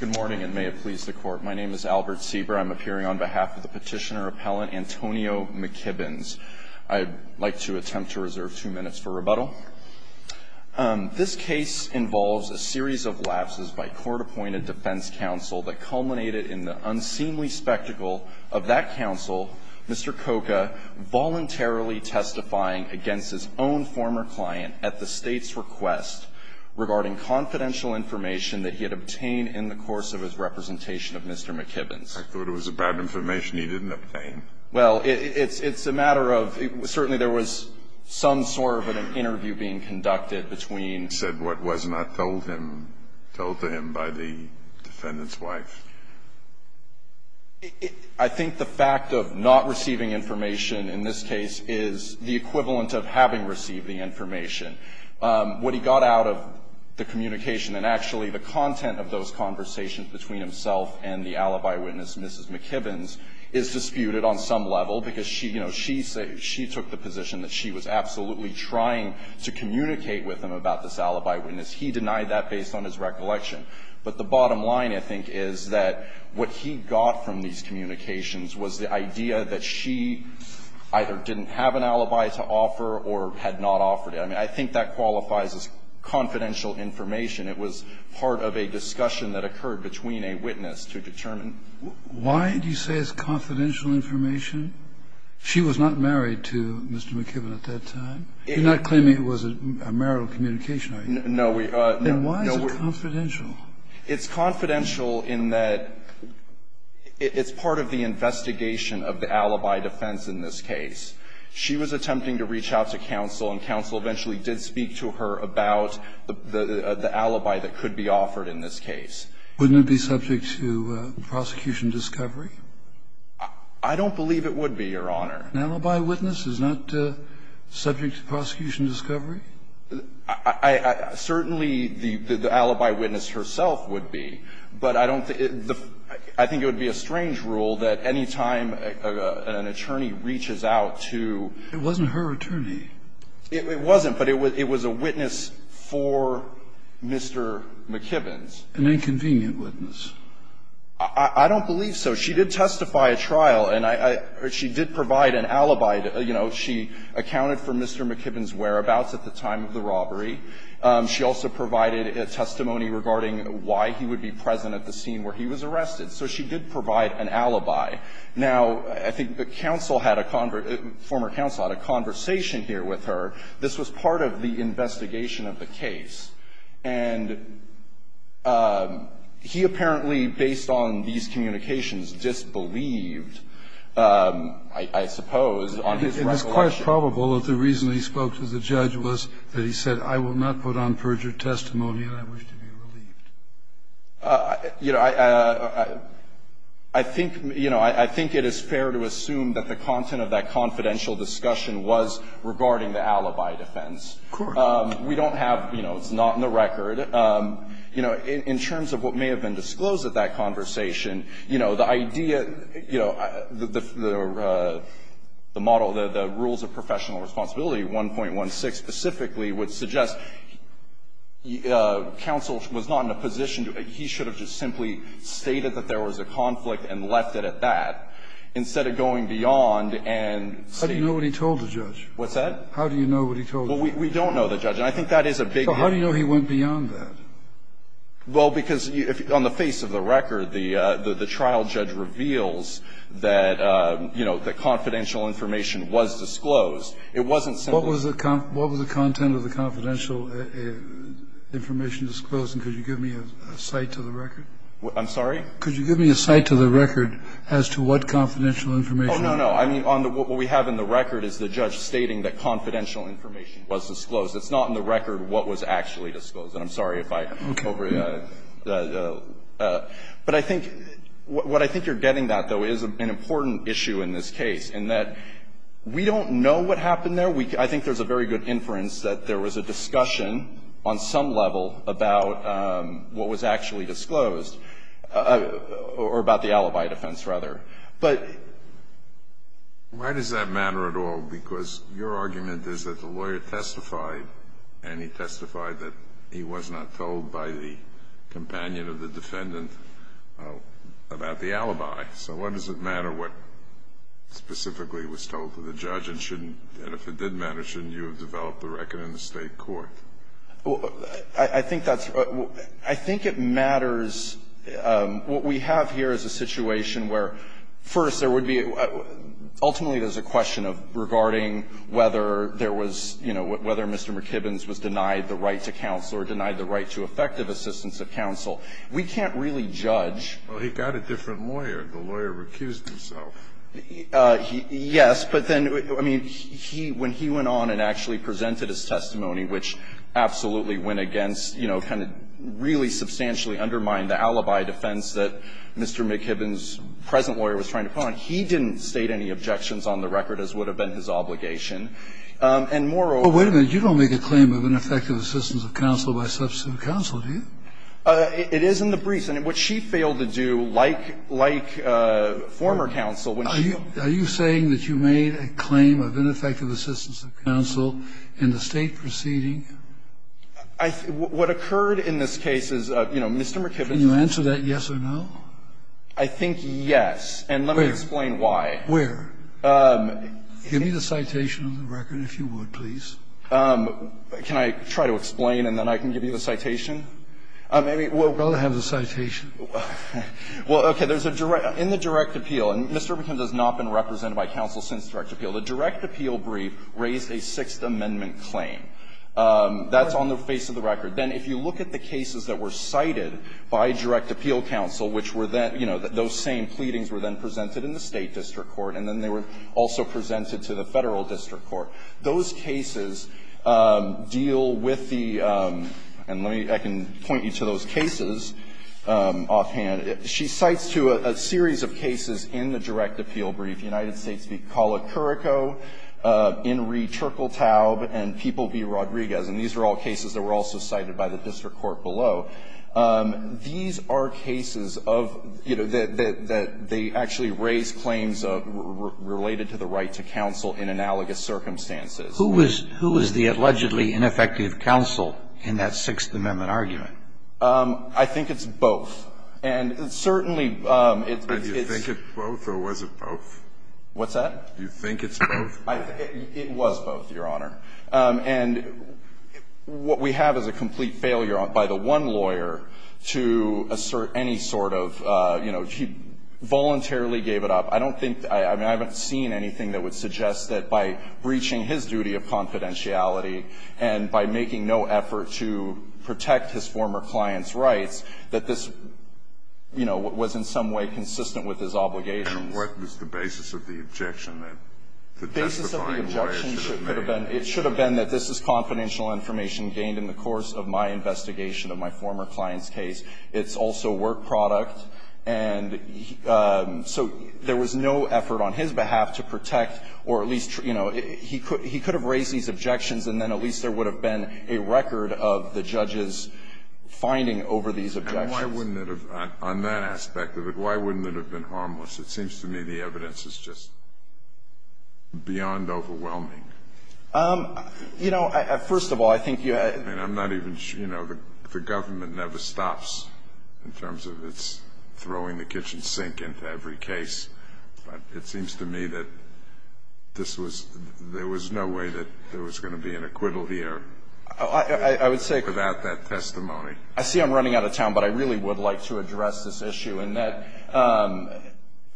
Good morning and may it please the Court. My name is Albert Sieber. I'm appearing on behalf of the petitioner-appellant Antonio McKibbins. I'd like to attempt to reserve two minutes for rebuttal. This case involves a series of lapses by court-appointed defense counsel that culminated in the unseemly spectacle of that counsel, Mr. Koka, voluntarily testifying against his own former client at the State's request regarding confidential information that he had obtained in the course of his representation of Mr. McKibbins. I thought it was bad information he didn't obtain. Well, it's a matter of certainly there was some sort of an interview being conducted between He said what was not told to him by the defendant's wife. I think the fact of not receiving information in this case is the equivalent of having received the information. What he got out of the communication and actually the content of those conversations between himself and the alibi witness, Mrs. McKibbins, is disputed on some level, because she, you know, she took the position that she was absolutely trying to communicate with him about this alibi witness. He denied that based on his recollection. But the bottom line, I think, is that what he got from these communications was the idea that she either didn't have an alibi to offer or had not offered it. I mean, I think that qualifies as confidential information. It was part of a discussion that occurred between a witness to determine. Why do you say it's confidential information? She was not married to Mr. McKibbin at that time. You're not claiming it was a marital communication, are you? No, we are not. Then why is it confidential? It's confidential in that it's part of the investigation of the alibi defense in this case. She was attempting to reach out to counsel, and counsel eventually did speak to her about the alibi that could be offered in this case. Wouldn't it be subject to prosecution discovery? I don't believe it would be, Your Honor. An alibi witness is not subject to prosecution discovery? Certainly, the alibi witness herself would be. But I don't think the – I think it would be a strange rule that any time an attorney reaches out to – It wasn't her attorney. It wasn't, but it was a witness for Mr. McKibbin's. An inconvenient witness. I don't believe so. She did testify at trial, and I – she did provide an alibi. You know, she accounted for Mr. McKibbin's whereabouts at the time of the robbery. She also provided testimony regarding why he would be present at the scene where he was arrested. So she did provide an alibi. Now, I think counsel had a – former counsel had a conversation here with her. This was part of the investigation of the case. And he apparently, based on these communications, disbelieved, I suppose, on his recollection. It's probable that the reason he spoke to the judge was that he said, I will not put on perjured testimony and I wish to be relieved. You know, I think – you know, I think it is fair to assume that the content of that confidential discussion was regarding the alibi defense. Of course. We don't have – you know, it's not in the record. You know, in terms of what may have been disclosed at that conversation, you know, the idea, you know, the model, the rules of professional responsibility 1.16 specifically would suggest counsel was not in a position to – he should have just simply stated that there was a conflict and left it at that, instead of going beyond and saying – How do you know what he told the judge? What's that? How do you know what he told the judge? Well, we don't know the judge. And I think that is a big – So how do you know he went beyond that? Well, because on the face of the record, the trial judge reveals that, you know, that confidential information was disclosed. It wasn't simply – What was the content of the confidential information disclosed? And could you give me a cite to the record? I'm sorry? Could you give me a cite to the record as to what confidential information was disclosed? Oh, no, no. I mean, on the – what we have in the record is the judge stating that confidential information was disclosed. It's not in the record what was actually disclosed. And I'm sorry if I over – but I think – what I think you're getting, though, is an important issue in this case, in that we don't know what happened there. I think there's a very good inference that there was a discussion on some level about what was actually disclosed, or about the alibi defense, rather. But – Why does that matter at all? Because your argument is that the lawyer testified, and he testified that he was not told by the companion or the defendant about the alibi. So why does it matter what specifically was told to the judge? And shouldn't – and if it did matter, shouldn't you have developed the record in the State court? I think that's – I think it matters – what we have here is a situation where, first, there would be – ultimately, there's a question of regarding whether there was, you know, whether Mr. McKibbins was denied the right to counsel or denied the right to effective assistance of counsel. We can't really judge. Well, he got a different lawyer. The lawyer recused himself. Yes. But then, I mean, he – when he went on and actually presented his testimony, which absolutely went against, you know, kind of really substantially undermined the alibi defense that Mr. McKibbins' present lawyer was trying to put on, he didn't state any objections on the record, as would have been his obligation. And moreover – Well, wait a minute. You don't make a claim of ineffective assistance of counsel by substantive counsel, do you? It is in the briefs. And what she failed to do, like – like former counsel, when she – Are you saying that you made a claim of ineffective assistance of counsel in the State proceeding? I – what occurred in this case is, you know, Mr. McKibbins – Can you answer that yes or no? I think yes. And let me explain why. Where? Give me the citation of the record, if you would, please. Can I try to explain and then I can give you the citation? I mean, well – I'd rather have the citation. Well, okay. There's a direct – in the direct appeal, and Mr. McKibbins has not been represented by counsel since direct appeal, the direct appeal brief raised a Sixth Amendment claim. That's on the face of the record. Then if you look at the cases that were cited by direct appeal counsel, which were then – you know, those same pleadings were then presented in the State district court, and then they were also presented to the Federal district court. Those cases deal with the – and let me – I can point you to those cases offhand. She cites to a series of cases in the direct appeal brief. United States v. Colacurico, Inree Turkeltaub, and People v. Rodriguez. And these are all cases that were also cited by the district court below. These are cases of – you know, that they actually raise claims related to the right to counsel in analogous circumstances. Who was the allegedly ineffective counsel in that Sixth Amendment argument? And certainly it's – Do you think it's both or was it both? What's that? Do you think it's both? It was both, Your Honor. And what we have is a complete failure by the one lawyer to assert any sort of – you know, he voluntarily gave it up. I don't think – I mean, I haven't seen anything that would suggest that by breaching his duty of confidentiality and by making no effort to protect his former client's case, that this, you know, was in some way consistent with his obligations. And what was the basis of the objection that the testifying lawyer should have made? The basis of the objection should have been – it should have been that this is confidential information gained in the course of my investigation of my former client's case. It's also work product. And so there was no effort on his behalf to protect or at least – you know, he could have raised these objections and then at least there would have been a record of the objections. Why wouldn't it have – on that aspect of it, why wouldn't it have been harmless? It seems to me the evidence is just beyond overwhelming. You know, first of all, I think you – I mean, I'm not even – you know, the government never stops in terms of its throwing the kitchen sink into every case. But it seems to me that this was – there was no way that there was going to be an acquittal here without that testimony. I see I'm running out of time, but I really would like to address this issue in that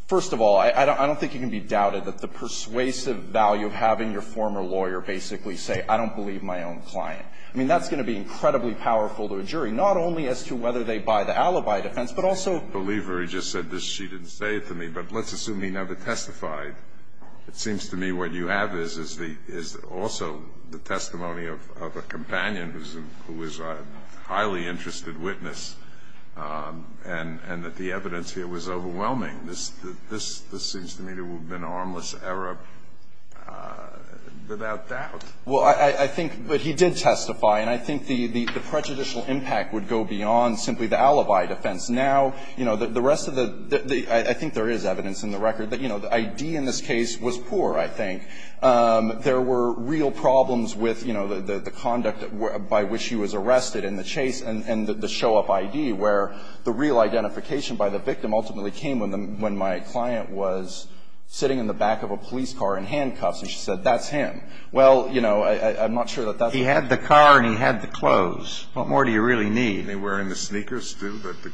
first of all, I don't think it can be doubted that the persuasive value of having your former lawyer basically say, I don't believe my own client, I mean, that's going to be incredibly powerful to a jury, not only as to whether they buy the alibi defense, but also – I don't believe her. He just said this. She didn't say it to me. But let's assume he never testified. It seems to me what you have is the – is also the testimony of a companion who is a highly interested witness and that the evidence here was overwhelming. This seems to me to have been an harmless error without doubt. Well, I think – but he did testify. And I think the prejudicial impact would go beyond simply the alibi defense. Now, you know, the rest of the – I think there is evidence in the record that, you know, the ID in this case was poor, I think. There were real problems with, you know, the conduct by which he was arrested and the chase and the show-up ID where the real identification by the victim ultimately came when my client was sitting in the back of a police car in handcuffs and she said, that's him. Well, you know, I'm not sure that that's – He had the car and he had the clothes. What more do you really need? Were they wearing the sneakers, too, that the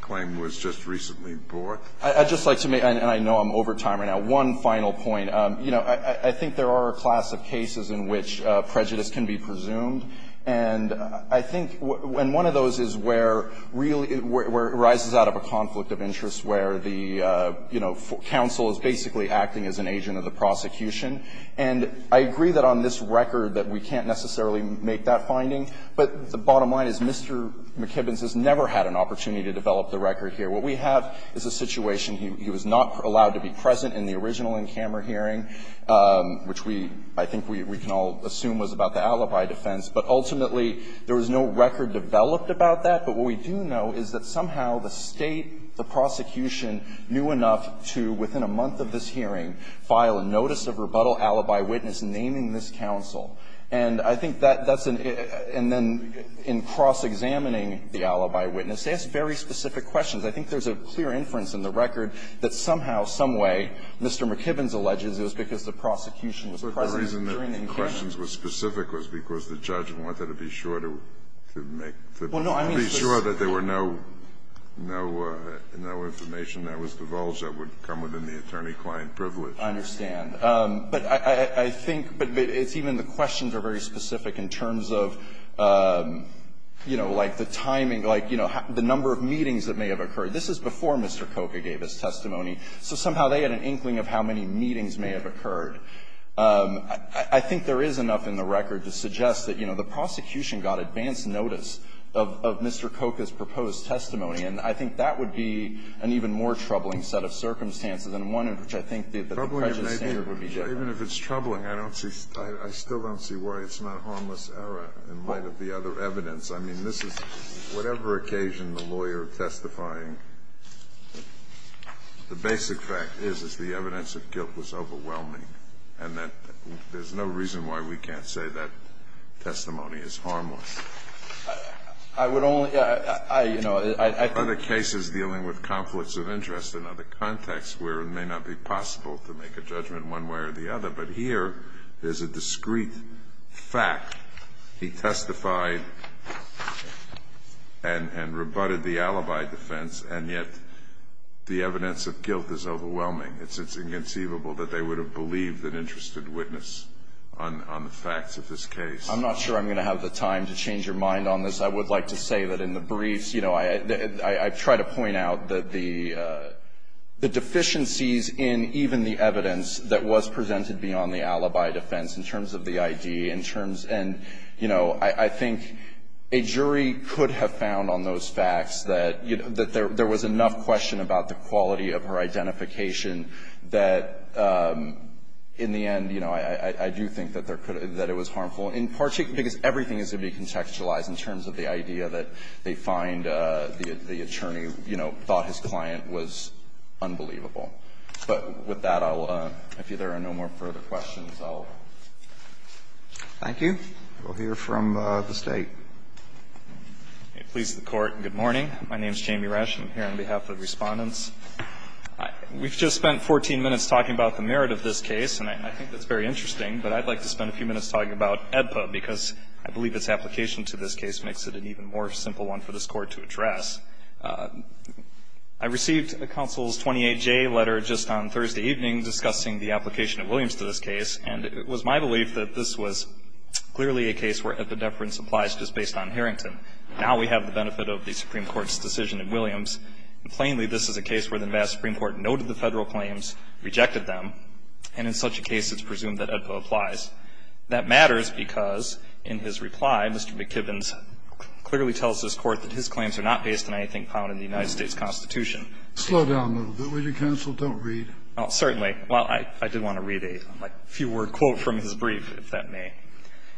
claim was just recently brought? I'd just like to make – and I know I'm over time right now – one final point. You know, I think there are a class of cases in which prejudice can be presumed. And I think – and one of those is where really – where it arises out of a conflict of interest where the, you know, counsel is basically acting as an agent of the prosecution. And I agree that on this record that we can't necessarily make that finding, but the bottom line is Mr. McKibbins has never had an opportunity to develop the record here. What we have is a situation. He was not allowed to be present in the original in-camera hearing, which we – I think we can all assume was about the alibi defense. But ultimately, there was no record developed about that. But what we do know is that somehow the State, the prosecution knew enough to, within a month of this hearing, file a notice of rebuttal alibi witness naming this counsel. And I think that that's an – and then in cross-examining the alibi witness, they ask very specific questions. I think there's a clear inference in the record that somehow, some way, Mr. McKibbins alleges it was because the prosecution was present during the in-camera. Kennedy. But the reason the questions were specific was because the judge wanted to be sure to make – to be sure that there were no – no information that was divulged that would come within the attorney-client privilege. I understand. But I think – but it's even the questions are very specific in terms of, you know, like the timing, like, you know, the number of meetings that may have occurred. This is before Mr. Koka gave his testimony. So somehow they had an inkling of how many meetings may have occurred. I think there is enough in the record to suggest that, you know, the prosecution got advance notice of Mr. Koka's proposed testimony. And I think that would be an even more troubling set of circumstances and one in which I think that the prejudice standard would be different. Even if it's troubling, I don't see – I still don't see why it's not harmless error in light of the other evidence. I mean, this is – whatever occasion the lawyer testifying, the basic fact is, is the evidence of guilt was overwhelming, and that there's no reason why we can't say that testimony is harmless. I would only – I, you know, I think – Other cases dealing with conflicts of interest in other contexts where it may not be possible to make a judgment one way or the other. But here, there's a discreet fact. He testified and rebutted the alibi defense, and yet the evidence of guilt is overwhelming. It's inconceivable that they would have believed an interested witness on the facts of this case. I'm not sure I'm going to have the time to change your mind on this. I would like to say that in the briefs, you know, I try to point out that the deficiencies in even the evidence that was presented beyond the alibi defense in terms of the ID, in terms – and, you know, I think a jury could have found on those facts that, you know, that there was enough question about the quality of her identification that, in the end, you know, I do think that there could – that it was harmful, because everything is going to be contextualized in terms of the idea that they find that the attorney, you know, thought his client was unbelievable. But with that, I'll – if there are no more further questions, I'll. Roberts. Thank you. We'll hear from the State. Please, the Court. Good morning. My name is Jamie Resch. I'm here on behalf of the Respondents. We've just spent 14 minutes talking about the merit of this case, and I think that's very interesting, but I'd like to spend a few minutes talking about AEDPA, because I believe its application to this case makes it an even more simple one for this Court to address. I received the counsel's 28-J letter just on Thursday evening discussing the application of Williams to this case, and it was my belief that this was clearly a case where epidephrin supplies just based on Harrington. Now we have the benefit of the Supreme Court's decision in Williams. Plainly, this is a case where the Nevada Supreme Court noted the Federal claims, rejected them, and in such a case, it's presumed that AEDPA applies. That matters because, in his reply, Mr. McKibbins clearly tells this Court that his claims are not based on anything found in the United States Constitution. Slow down a little bit, will you, counsel? Don't read. Oh, certainly. Well, I did want to read a few-word quote from his brief, if that may.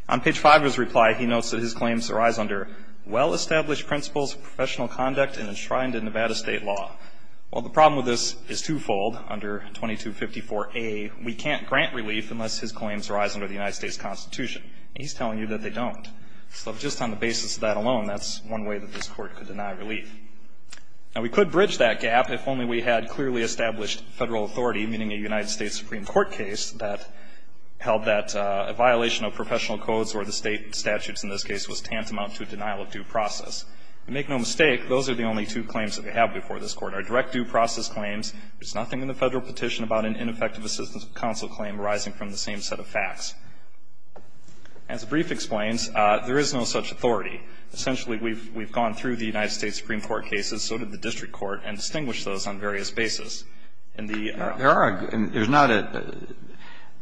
On page 5 of his reply, he notes that his claims arise under well-established principles of professional conduct and enshrined in Nevada State law. While the problem with this is twofold, under 2254a, we can't grant relief unless his claims arise under the United States Constitution. And he's telling you that they don't. So just on the basis of that alone, that's one way that this Court could deny relief. Now, we could bridge that gap if only we had clearly established Federal authority, meaning a United States Supreme Court case that held that a violation of professional codes or the State statutes in this case was tantamount to a denial of due process. And make no mistake, those are the only two claims that we have before this Court. Our direct due process claims, there's nothing in the Federal petition about an ineffective assistance of counsel claim arising from the same set of facts. As the brief explains, there is no such authority. Essentially, we've gone through the United States Supreme Court cases, so did the district court, and distinguished those on various bases. In the other case, there's no such authority. There are. There's not a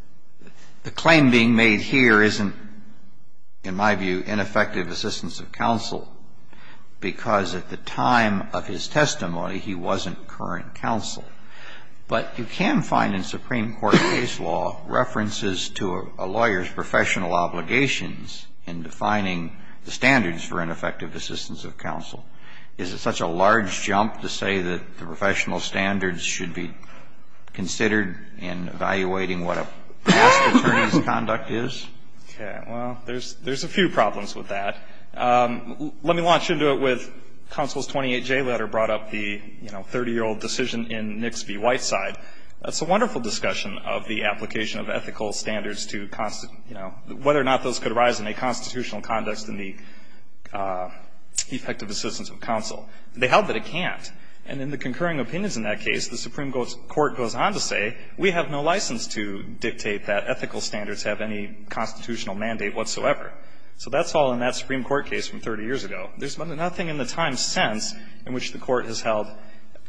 – the claim being made here isn't, in my view, ineffective assistance of counsel, because at the time of his testimony, he wasn't current counsel. But you can find in Supreme Court case law references to a lawyer's professional obligations in defining the standards for ineffective assistance of counsel. Is it such a large jump to say that the professional standards should be considered in evaluating what a past attorney's conduct is? Okay. Well, there's a few problems with that. Let me launch into it with counsel's 28J letter brought up the, you know, 30-year old decision in Nix v. Whiteside. That's a wonderful discussion of the application of ethical standards to, you know, whether or not those could arise in a constitutional context in the effective assistance of counsel. They held that it can't. And in the concurring opinions in that case, the Supreme Court goes on to say, we have no license to dictate that ethical standards have any constitutional mandate whatsoever. So that's all in that Supreme Court case from 30 years ago. There's nothing in the time since in which the Court has held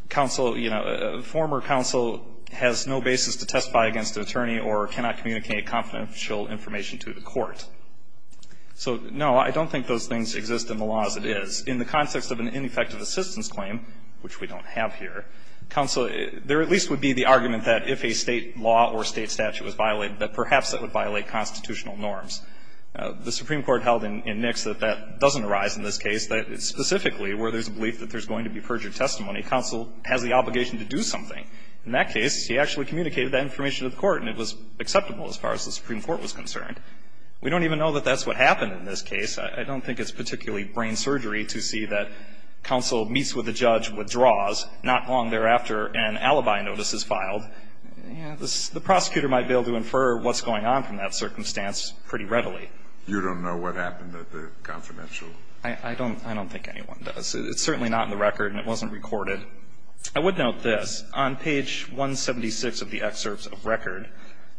counsel, you know, former counsel has no basis to testify against an attorney or cannot communicate confidential information to the court. So, no, I don't think those things exist in the law as it is. In the context of an ineffective assistance claim, which we don't have here, counsel — there at least would be the argument that if a State law or State statute was violated, that perhaps it would violate constitutional norms. The Supreme Court held in Nix that that doesn't arise in this case. Specifically, where there's a belief that there's going to be perjured testimony, counsel has the obligation to do something. In that case, he actually communicated that information to the court, and it was acceptable as far as the Supreme Court was concerned. We don't even know that that's what happened in this case. I don't think it's particularly brain surgery to see that counsel meets with a judge, withdraws, not long thereafter an alibi notice is filed. The prosecutor might be able to infer what's going on from that circumstance pretty readily. You don't know what happened at the confidential? I don't. I don't think anyone does. It's certainly not in the record, and it wasn't recorded. I would note this. On page 176 of the excerpts of record,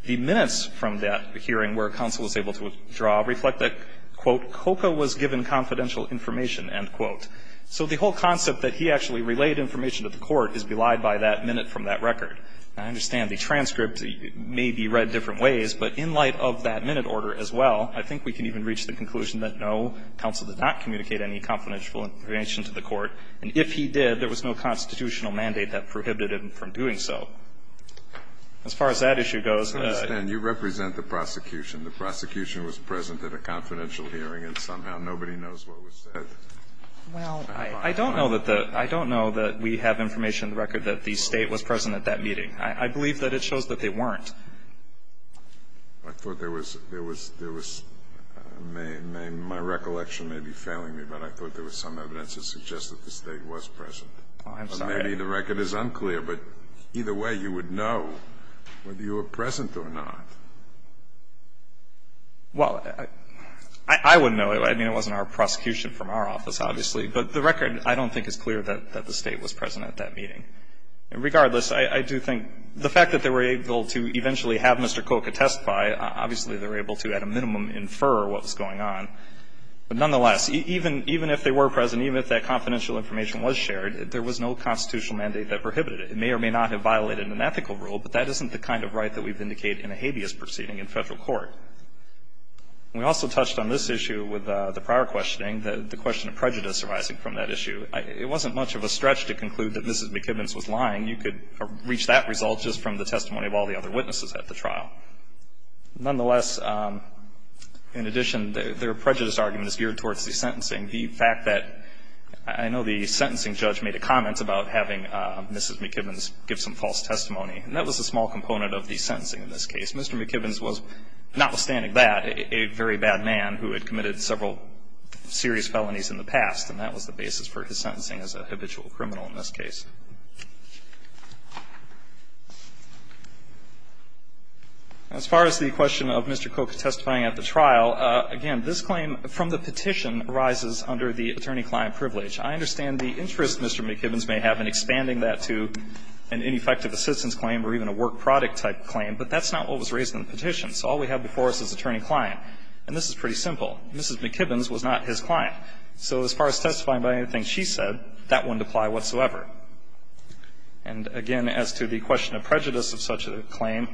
the minutes from that hearing where counsel was able to withdraw reflect that, quote, "...Coco was given confidential information," end quote. So the whole concept that he actually relayed information to the court is belied by that minute from that record. Now, I understand the transcript may be read different ways, but in light of that minute order as well, I think we can even reach the conclusion that no, counsel did not communicate any confidential information to the court. And if he did, there was no constitutional mandate that prohibited him from doing so. As far as that issue goes. I understand. You represent the prosecution. The prosecution was present at a confidential hearing, and somehow nobody knows what was said. Well, I don't know that the we have information in the record that the State was present at that meeting. I believe that it shows that they weren't. I thought there was my recollection may be failing me, but I thought there was some evidence that suggests that the State was present. I'm sorry. Maybe the record is unclear, but either way, you would know whether you were present or not. Well, I wouldn't know. I mean, it wasn't our prosecution from our office, obviously. But the record I don't think is clear that the State was present at that meeting. And regardless, I do think the fact that they were able to eventually have Mr. Koch attest by, obviously they were able to at a minimum infer what was going on. But nonetheless, even if they were present, even if that confidential information was shared, there was no constitutional mandate that prohibited it. It may or may not have violated an ethical rule, but that isn't the kind of right that we've indicated in a habeas proceeding in Federal court. We also touched on this issue with the prior questioning, the question of prejudice arising from that issue. It wasn't much of a stretch to conclude that Mrs. McKibbins was lying. You could reach that result just from the testimony of all the other witnesses at the trial. Nonetheless, in addition, their prejudice argument is geared towards the sentencing. The fact that I know the sentencing judge made a comment about having Mrs. McKibbins give some false testimony, and that was a small component of the sentencing in this case. Mr. McKibbins was, notwithstanding that, a very bad man who had committed several serious felonies in the past, and that was the basis for his sentencing as a habitual criminal in this case. As far as the question of Mr. Koch testifying at the trial, again, this claim from the petition arises under the attorney-client privilege. I understand the interest Mr. McKibbins may have in expanding that to an ineffective assistance claim or even a work product type claim, but that's not what was raised in the petition. So all we have before us is attorney-client. And this is pretty simple. Mrs. McKibbins was not his client. So as far as testifying by anything she said, that wouldn't apply whatsoever. And, again, as to the question of prejudice of such a claim,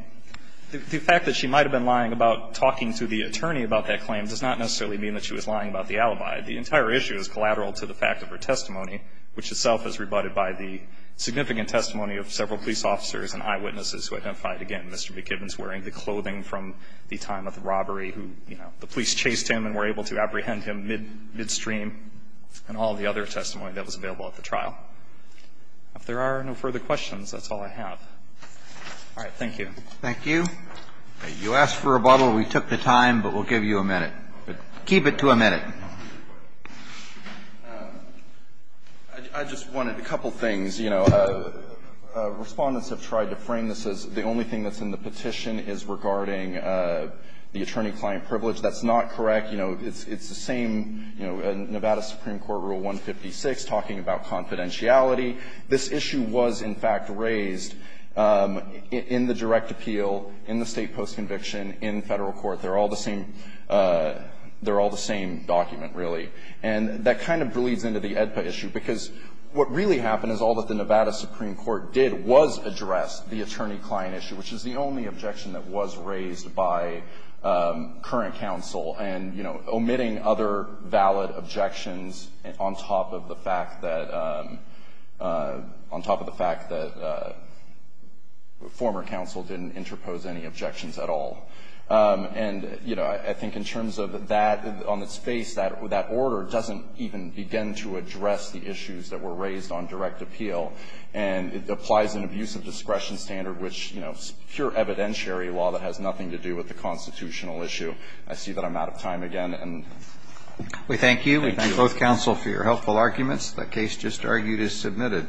the fact that she might have been lying about talking to the attorney about that claim does not necessarily mean that she was lying about the alibi. The entire issue is collateral to the fact of her testimony, which itself is rebutted by the significant testimony of several police officers and eyewitnesses who identified, again, Mr. McKibbins wearing the clothing from the time of the robbery who, you know, the police chased him and were able to apprehend him midstream and all the other testimony that was available at the trial. If there are no further questions, that's all I have. All right. Thank you. Thank you. You asked for a bottle. We took the time, but we'll give you a minute. Keep it to a minute. I just wanted a couple things. You know, Respondents have tried to frame this as the only thing that's in the petition is regarding the attorney-client privilege. That's not correct. You know, it's the same, you know, Nevada Supreme Court Rule 156 talking about confidentiality. This issue was, in fact, raised in the direct appeal, in the State post-conviction, in Federal court. They're all the same document, really. And that kind of bleeds into the AEDPA issue because what really happened is all that the Nevada Supreme Court did was address the attorney-client issue, which is the only objection that was raised by current counsel and, you know, omitting other valid objections on top of the fact that former counsel didn't interpose any objections at all. And, you know, I think in terms of that, on its face, that order doesn't even begin to address the issues that were raised on direct appeal. And it applies an abuse of discretion standard, which, you know, pure evidentiary law that has nothing to do with the constitutional issue. I see that I'm out of time again. And thank you. We thank both counsel for your helpful arguments. That case just argued is submitted.